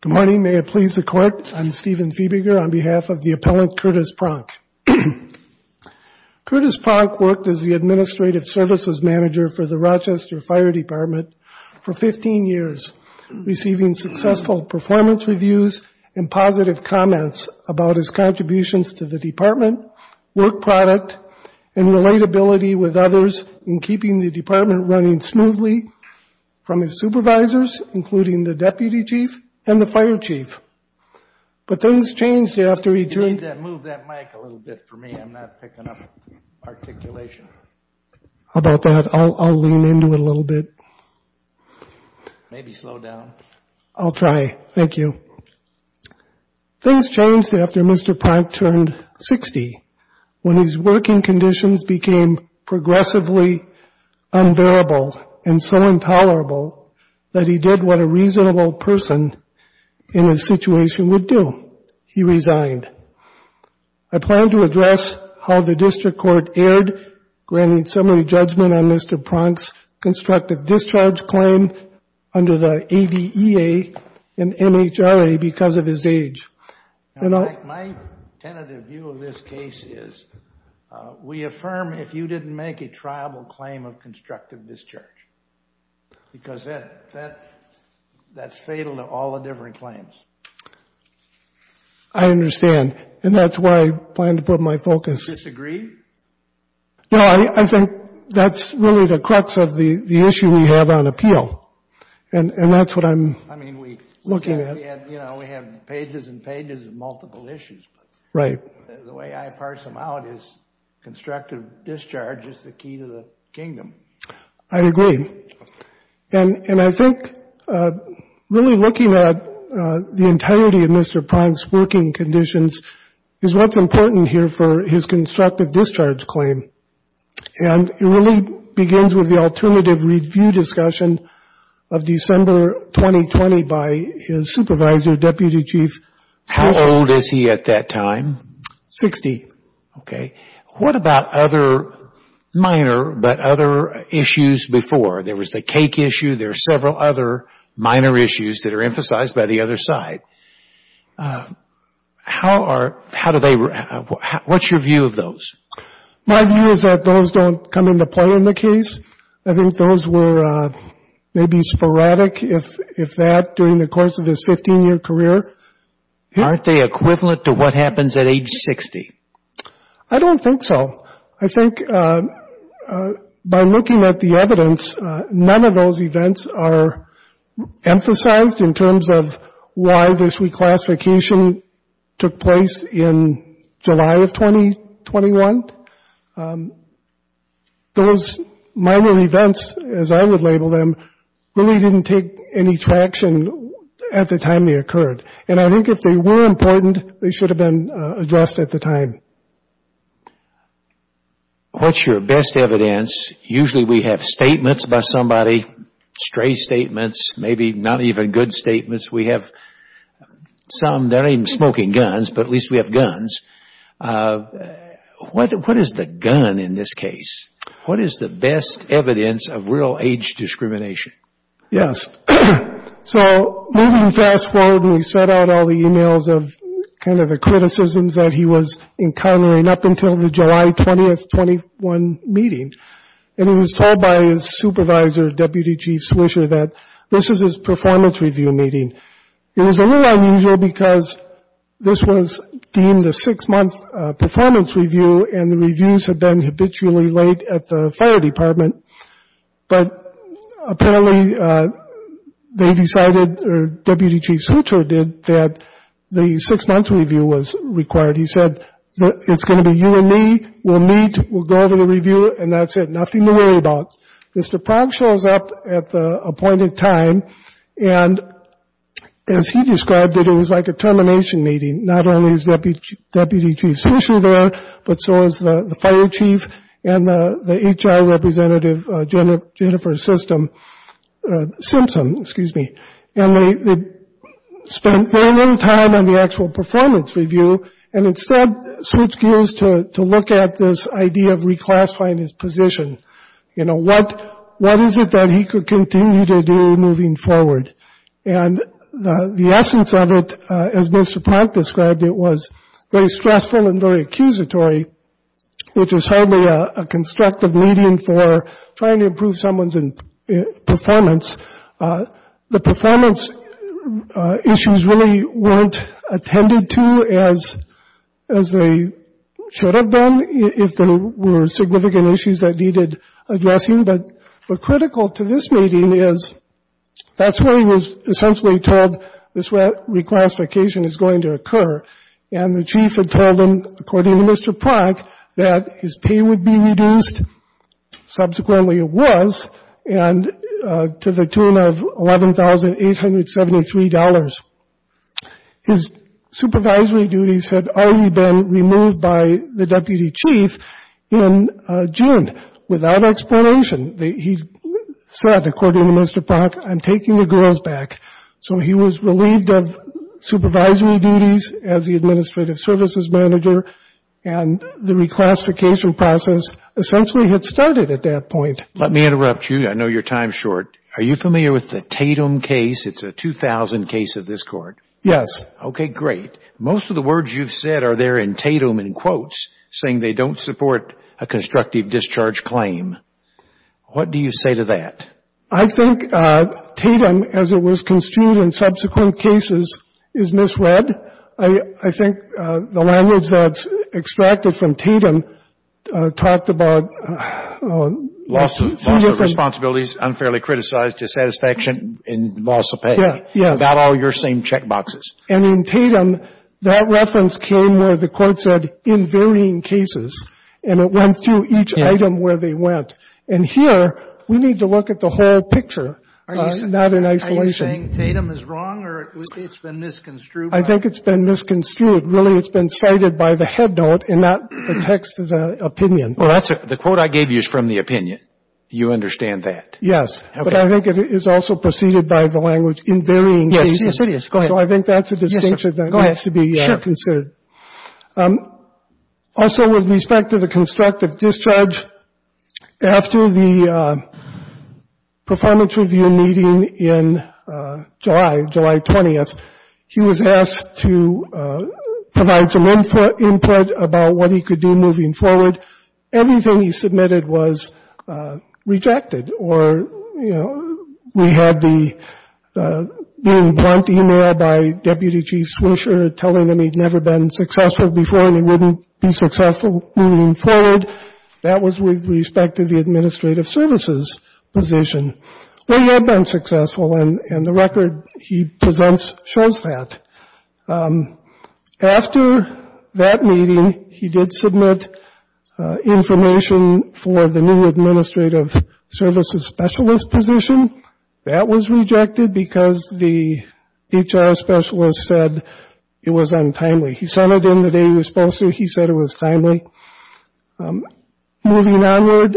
Good morning, may it please the court, I'm Stephen Fiebiger on behalf of the appellant Curtis Pronk. Curtis Pronk worked as the administrative services manager for the Rochester Fire Department for 15 years, receiving successful performance reviews and positive comments about his contributions to the department, work product, and relatability with others in keeping the department running smoothly from his supervisors, including the deputy chief and the fire chief. But things changed after he turned... You need to move that mic a little bit for me, I'm not picking up articulation. How about that, I'll lean into it a little bit. Maybe slow down. I'll try, thank you. Things changed after Mr. Pronk turned 60, when his working conditions became progressively unbearable and so intolerable that he did what a reasonable person in a situation would do, he resigned. I plan to address how the district court erred, granting summary judgment on Mr. Pronk's constructive discharge claim under the ADEA and MHRA because of his age. My tentative view of this case is, we affirm if you didn't make a triable claim of constructive discharge, because that's fatal to all the different claims. I understand, and that's why I plan to put my focus... Disagree? No, I think that's really the crux of the issue we have on appeal, and that's what I'm looking at. I mean, we have pages and pages of multiple issues, but the way I parse them out is constructive discharge is the key to the kingdom. I agree, and I think really looking at the entirety of Mr. Pronk's working conditions is what's important here for his constructive discharge claim, and it really begins with the alternative review discussion of December 2020 by his supervisor, Deputy Chief... How old is he at that time? 60. Okay, what about other minor, but other issues before? There was the cake issue. There are several other minor issues that are emphasized by the other side. How are, how do they, what's your view of those? My view is that those don't come into play in the case. I think those were maybe sporadic, if that, during the course of his 15-year career. Aren't they equivalent to what happens at age 60? I don't think so. I think by looking at the evidence none of those events are emphasized in terms of why this reclassification took place in July of 2021. Those minor events, as I would label them, really didn't take any traction at the time they occurred, and I think if they were important, they should have been addressed at the time. What's your best evidence? Usually we have statements by somebody, stray statements, maybe not even good statements. We have some, they're not even smoking guns, but at least we have guns. What is the gun in this case? What is the best evidence of real age discrimination? Yes, so moving fast forward, we sent out all the emails of kind of the criticisms that he was encountering up until the July 20th, 21 meeting, and he was told by his supervisor, Deputy Chief Swisher, that this is his performance review meeting. It was a little unusual because this was deemed a six-month performance review, and the reviews had been habitually late at the fire department, but apparently they decided, or Deputy Chief Swisher did, that the six-month review was required. He said, it's going to be you and me, we'll meet, we'll go over the review, and that's it, nothing to worry about. Mr. Prong shows up at the appointed time, and as he described it, it was like a termination meeting. Not only is Deputy Chief Swisher there, but so is the fire chief and the HR representative, Jennifer Simpson, and they spent very little time on the actual performance review, and instead switched gears to look at this idea of reclassifying his position. You know, what is it that he could continue to do moving forward? And the essence of it, as Mr. Prong described it, was very stressful and very accusatory, which is hardly a constructive medium for trying to improve someone's performance. The performance issues really weren't attended to as they should have been, if there were significant issues that needed addressing, but what's critical to this meeting is, that's where he was essentially told this reclassification is going to occur, and the chief had told him, according to Mr. Prong, that his pay would be reduced. Subsequently, it was, and to the tune of $11,873. His supervisory duties had already been removed by the deputy chief in June. Without explanation, he said, according to Mr. Prong, I'm taking the girls back. So he was relieved of supervisory duties as the administrative services manager, and the reclassification process essentially had started at that point. Let me interrupt you. I know your time's short. Are you familiar with the Tatum case? It's a 2000 case of this Court. Yes. Okay, great. Most of the words you've said are there in Tatum in quotes, saying they don't support a constructive discharge claim. What do you say to that? I think Tatum, as it was construed in subsequent cases, is misread. I think the language that's extracted from Tatum talked about Loss of responsibilities, unfairly criticized, dissatisfaction, and loss of pay. Yes. Without all your same checkboxes. And in Tatum, that reference came where the Court said, in varying cases, and it went through each item where they went. And here, we need to look at the whole picture, not in isolation. Are you saying Tatum is wrong, or it's been misconstrued? I think it's been misconstrued. Really, it's been cited by the headnote and not the text of the opinion. Well, that's a the quote I gave you is from the opinion. You understand that? Yes. Okay. But I think it is also preceded by the language, in varying cases. Yes, it is. Go ahead. So I think that's a distinction that needs to be considered. Also, with respect to the constructive discharge, after the performance review meeting in July, July 20th, he was asked to provide some input about what he could do moving forward. Everything he submitted was rejected. Or, you know, we had the blunt email by Deputy Chief Swisher telling him he'd never been successful before, and he wouldn't be successful moving forward. That was with respect to the administrative services position. Well, he had been successful, and the record he presents shows that. After that meeting, he did submit information for the new administrative services specialist position. That was rejected because the HR specialist said it was untimely. He sent it in the day he was supposed to. He said it was timely. So moving onward,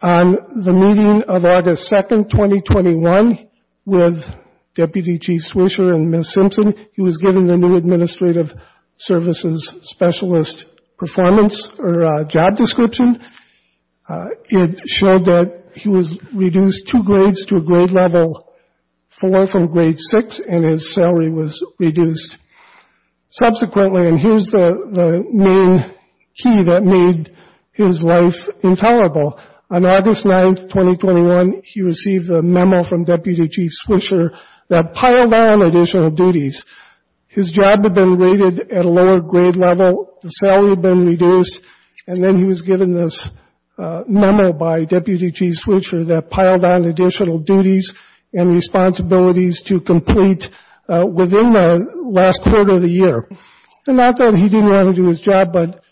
on the meeting of August 2nd, 2021, with Deputy Chief Swisher and Ms. Simpson, he was given the new administrative services specialist performance or job description. It showed that he was reduced two grades to a grade level four from grade six, and his salary was reduced. Subsequently, and here's the main key that made his life intolerable. On August 9th, 2021, he received a memo from Deputy Chief Swisher that piled on additional duties. His job had been rated at a lower grade level, the salary had been reduced, and then he was given this memo by Deputy Chief Swisher that piled on additional duties and that was in the last quarter of the year. And not that he didn't want to do his job, but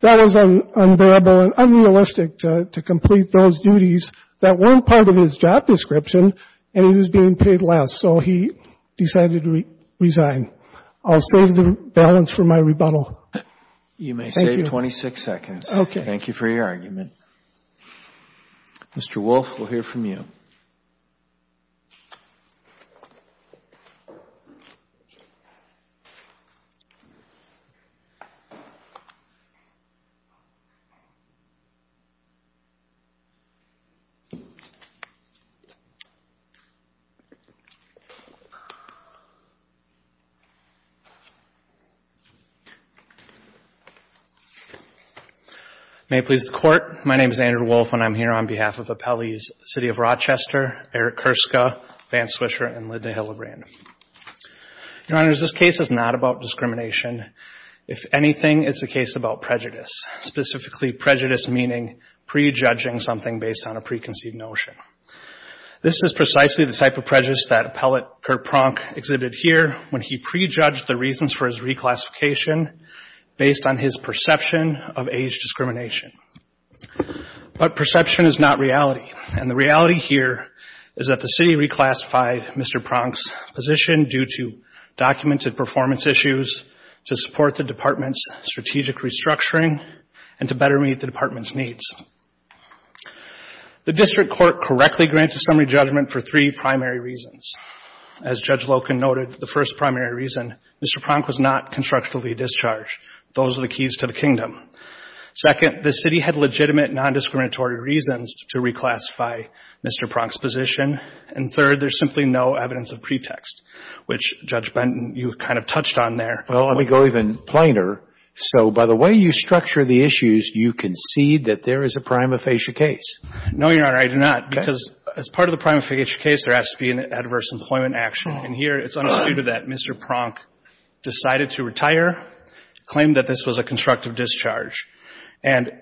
that was unbearable and unrealistic to complete those duties that weren't part of his job description, and he was being paid less. So he decided to resign. I'll save the balance for my rebuttal. Thank you. Mr. Wolff, we'll hear from you. May it please the Court, my name is Andrew Wolff and I'm here on behalf of Appellee's City of Rochester, Eric Kerska, Van Swisher, and Linda Hillebrand. Your Honor, this case is not about discrimination. If anything, it's a case about prejudice, specifically prejudice meaning prejudging something based on a preconceived notion. This is precisely the type of prejudice that Appellate Kirk Pronunciation exhibited here when he prejudged the reasons for his reclassification based on his perception of age discrimination. But perception is not reality, and the reality here is that the City reclassified Mr. Pronk's position due to documented performance issues, to support the department's strategic restructuring, and to better meet the department's needs. The District Court correctly granted summary judgment for three primary reasons. As Judge Loken noted, the first primary reason, Mr. Pronk was not constructively discharged. Those are the keys to the kingdom. Second, the City had legitimate non-discriminatory reasons to reclassify Mr. Pronk's position. And third, there's simply no evidence of pretext, which, Judge Benton, you kind of touched on there. Judge Benton Well, let me go even plainer. So by the way you structure the issues, you concede that there is a prima facie case. Eric Kerska No, Your Honor, I do not, because as part of the prima facie case, there has to be an adverse employment action. And here it's understood that Mr. Pronk decided to retire, claimed that this was a constructive discharge. And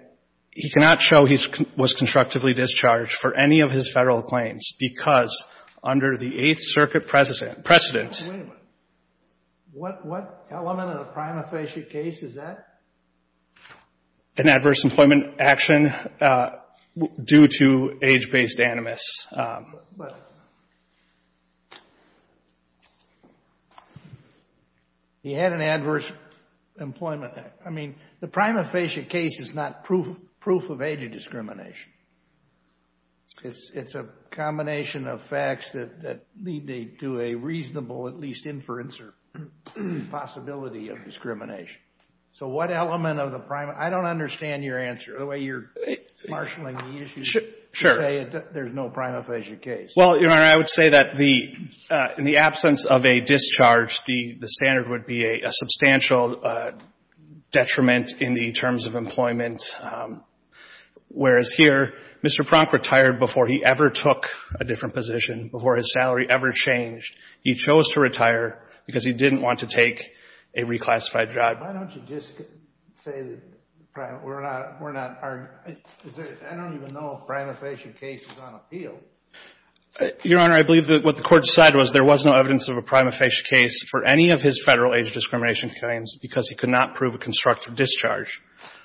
he cannot show he was constructively discharged for any of his federal claims, because under the Eighth Circuit precedent... Judge Pronk Wait a minute. What element of the prima facie case is that? Eric Kerska An adverse employment action due to age-based animus. Judge Pronk He had an adverse employment action. I mean, the prima facie case is not proof of age of discrimination. It's a combination of facts that lead to a reasonable, at least inferential, possibility of discrimination. So what element of the prima... I don't understand your answer, the way you're marshaling the Eric Kerska No, Your Honor, in the absence of a discharge, the standard would be a substantial detriment in the terms of employment. Whereas here, Mr. Pronk retired before he ever took a different position, before his salary ever changed. He chose to retire because he didn't want to take a reclassified job. Judge Pronk Why don't you just say that we're not... I don't even know if the prima facie case is on appeal. Eric Kerska What he said was there was no evidence of a prima facie case for any of his federal age discrimination claims because he could not prove a constructive discharge,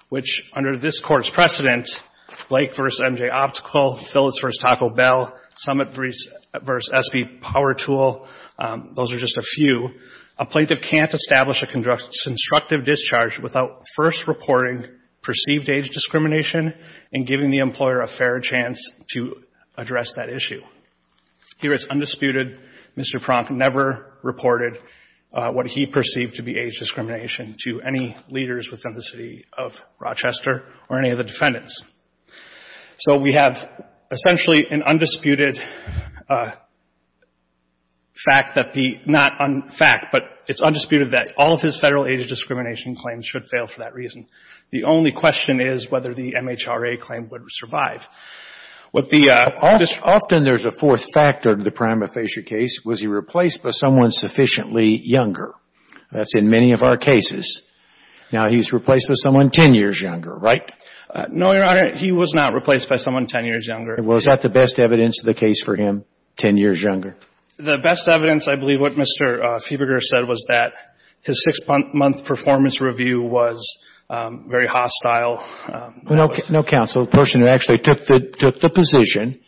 which under this Court's precedent, Blake v. M.J. Optical, Phillips v. Taco Bell, Summit v. S.B. Power Tool, those are just a few. A plaintiff can't establish a constructive discharge without first reporting perceived age discrimination and giving the employer a fair chance to address that issue. Here it's undisputed. Mr. Pronk never reported what he perceived to be age discrimination to any leaders within the City of Rochester or any of the defendants. So we have essentially an undisputed fact that the, not fact, but it's undisputed that all of his federal age discrimination claims should fail for that reason. The only question is whether the MHRA claim would survive. Often there's a fourth factor to the prima facie case. Was he replaced by someone sufficiently younger? That's in many of our cases. Now he's replaced by someone 10 years younger, right? No, Your Honor, he was not replaced by someone 10 years younger. Was that the best evidence of the case for him, 10 years younger? The best evidence, I believe, what Mr. Fuebiger said was that his six-month performance review was very hostile. He took the position.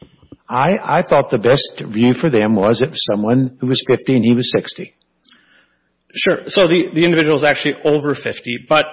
I thought the best view for them was it was someone who was 50 and he was 60. Sure. So the individual is actually over 50, but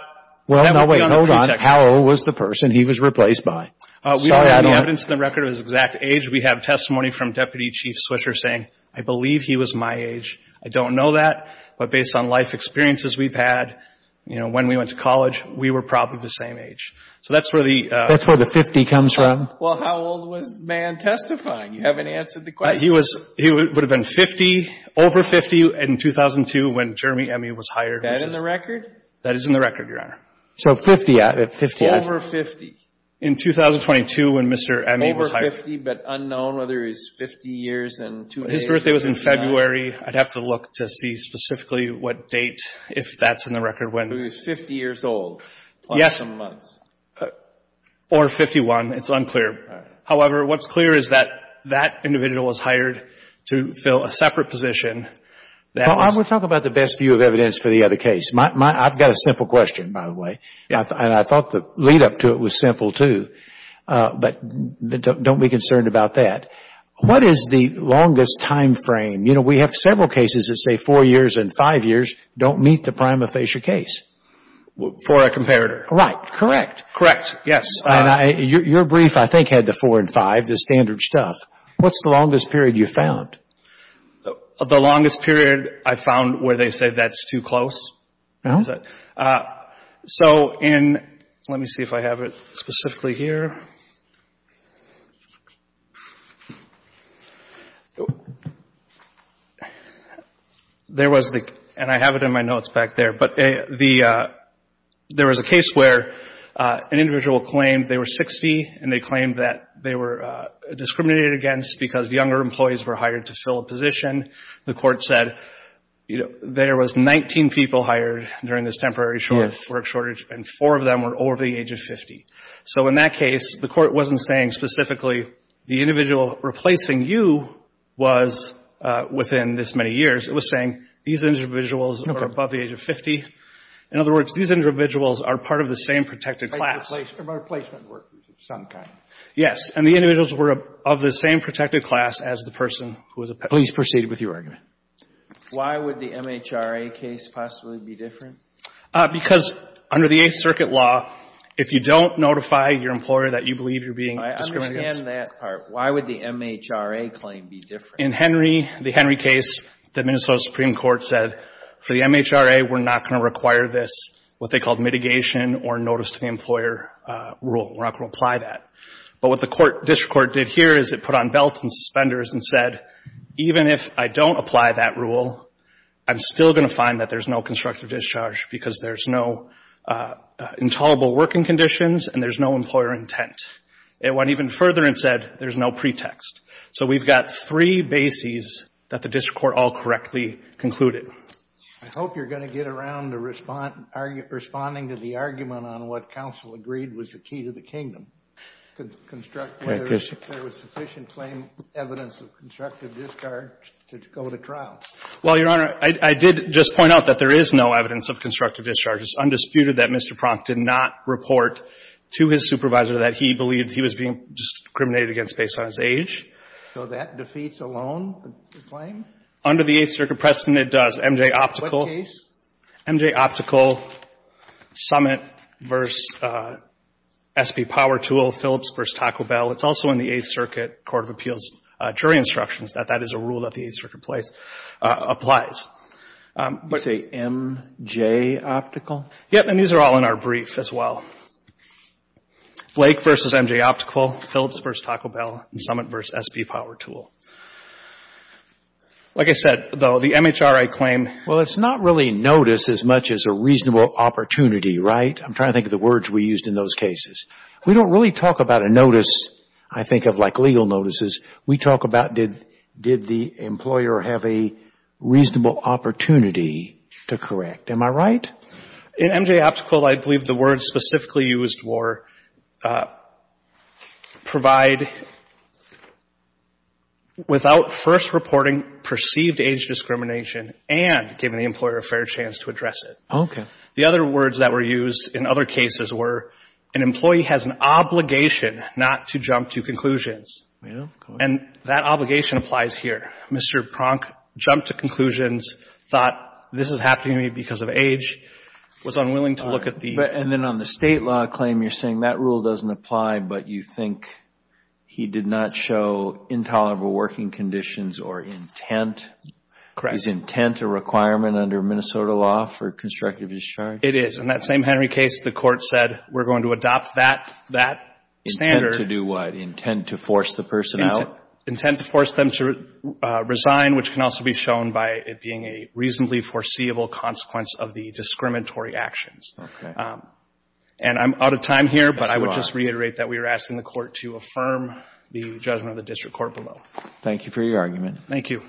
that would be on a pretext. Well, no, wait, hold on. How old was the person he was replaced by? We don't have any evidence on the record of his exact age. We have testimony from Deputy Chief Swisher saying, I believe he was my age. I don't know that, but based on life experiences we've had, you know, when we went to college, we were probably the same age. So that's where the 50 comes from. Well, how old was the man testifying? You haven't answered the question. He would have been 50, over 50 in 2002 when Jeremy Emme was hired. Is that in the record? That is in the record, Your Honor. Over 50? In 2022 when Mr. Emme was hired. His birthday was in February. I'd have to look to see specifically what date, if that's in the record, when. So he was 50 years old plus some months. Or 51. It's unclear. However, what's clear is that that individual was hired to fill a separate position. I'm going to talk about the best view of evidence for the other case. I've got a simple question, by the way. And I thought the lead-up to it was simple, too. But don't be concerned about that. What is the longest time frame? You know, we have several cases that say four years and five years don't meet the prima facie case. For a comparator. Right. Correct. Correct. Yes. Your brief, I think, had the four and five, the standard stuff. What's the longest period you found? The longest period I found where they say that's too close. So in, let me see if I have it specifically here. There was the, and I have it in my notes back there. But there was a case where an individual claimed they were 60 and they claimed that they were discriminated against because younger employees were hired to fill a position. The court said there was 19 people hired during this temporary work shortage. And four of them were over the age of 50. So in that case, the court wasn't saying specifically the individual replacing you was within this many years. It was saying these individuals are above the age of 50. In other words, these individuals are part of the same protected class. Yes. And the individuals were of the same protected class as the person who was a, please proceed with your argument. Why would the MHRA case possibly be different? Because under the Eighth Circuit law, if you don't notify your employer that you believe you're being discriminated against. I understand that part. Why would the MHRA claim be different? In Henry, the Henry case, the Minnesota Supreme Court said for the MHRA, we're not going to require this, what they called mitigation or notice to the employer rule. We're not going to apply that. But what the court, district court did here is it put on belts and suspenders and said, even if I don't apply that rule, I'm still going to find that there's no constructive discharge because there's no intolerable working conditions and there's no employer intent. It went even further and said, there's no pretext. So we've got three bases that the district court all correctly concluded. I hope you're going to get around to responding to the argument on what counsel agreed was the key to the kingdom. To construct whether there was sufficient claim evidence of constructive discharge to go to trial. Well, Your Honor, I did just point out that there is no evidence of constructive discharge. It's undisputed that Mr. Pronk did not report to his supervisor that he believed he was being discriminated against based on his age. So that defeats a loan claim? Under the Eighth Circuit precedent, it does. MJ Optical. What case? MJ Optical, Summit v. S.P. Power Tool, Phillips v. Taco Bell. It's also in the Eighth Circuit Court of Appeals jury instructions that that is a rule that the Eighth Circuit place applies. You say MJ Optical? Yes, and these are all in our brief as well. Blake v. MJ Optical, Phillips v. Taco Bell, and Summit v. S.P. Power Tool. Like I said, though, the MHRA claim, well, it's not really notice as much as a reasonable opportunity, right? I'm trying to think of the words we used in those cases. We don't really talk about a notice, I think, of like legal notices. We talk about did the employer have a reasonable opportunity to correct. Am I right? In MJ Optical, I believe the words specifically used were provide without first reporting perceived age discrimination and giving the employer a fair chance to address it. Okay. The other words that were used in other cases were an employee has an obligation not to jump to conclusions. And that obligation applies here. Mr. Pronk jumped to conclusions, thought this is happening to me because of age, was unwilling to look at the. And then on the State law claim, you're saying that rule doesn't apply, but you think he did not show intolerable working conditions or intent. Correct. Is intent a requirement under Minnesota law for constructive discharge? It is. In that same Henry case, the Court said we're going to adopt that standard. Intent to do what? Intent to force the person out? Intent to force them to resign, which can also be shown by it being a reasonably foreseeable consequence of the discriminatory actions. Okay. And I'm out of time here. Yes, you are. But I would just reiterate that we are asking the Court to affirm the judgment of the district court below. Thank you for your argument. Thank you.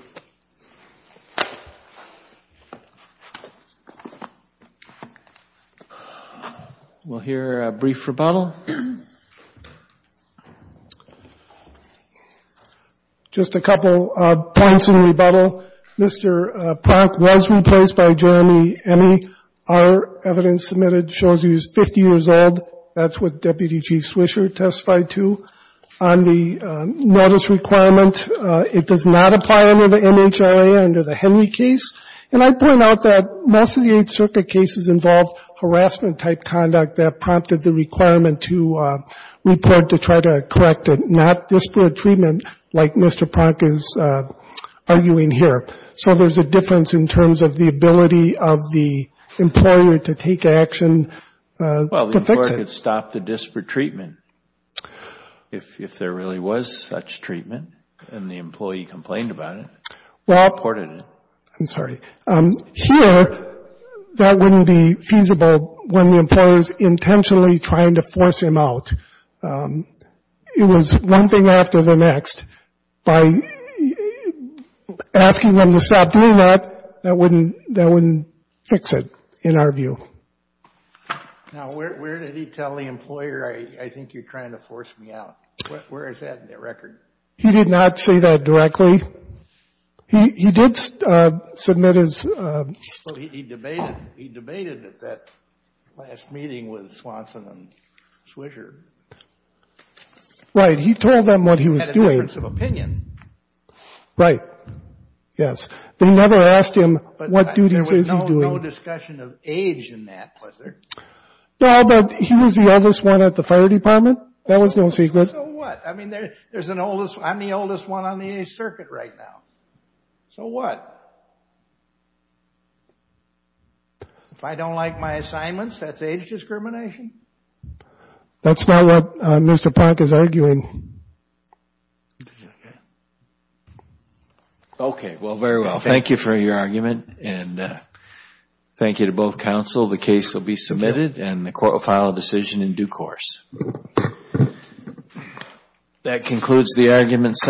We'll hear a brief rebuttal. Just a couple of points in rebuttal. Mr. Pronk was replaced by Jeremy Emme. Our evidence submitted shows he was 50 years old. That's what Deputy Chief Swisher testified to. And I would point out that most of the Eighth Circuit cases involved harassment-type conduct that prompted the requirement to report to try to correct it, not disparate treatment like Mr. Pronk is arguing here. So there's a difference in terms of the ability of the employer to take action to fix it. Well, the employer could stop the disparate treatment. If there really was such treatment and the employee complained about it or reported it. I'm sorry. Here, that wouldn't be feasible when the employer is intentionally trying to force him out. It was one thing after the next. By asking them to stop doing that, that wouldn't fix it, in our view. Now, where did he tell the employer, I think you're trying to force me out? Where is that in the record? He did not say that directly. He did submit his. Well, he debated at that last meeting with Swanson and Swisher. Right. He told them what he was doing. He had a difference of opinion. Right. Yes. They never asked him what duties he was doing. There was no discussion of age in that, was there? No, but he was the oldest one at the fire department. That was no secret. So what? I mean, I'm the oldest one on the age circuit right now. So what? If I don't like my assignments, that's age discrimination? That's not what Mr. Pronk is arguing. Okay. Well, very well. Thank you for your argument and thank you to both counsel. The case will be submitted and the court will file a decision in due course. That concludes the argument.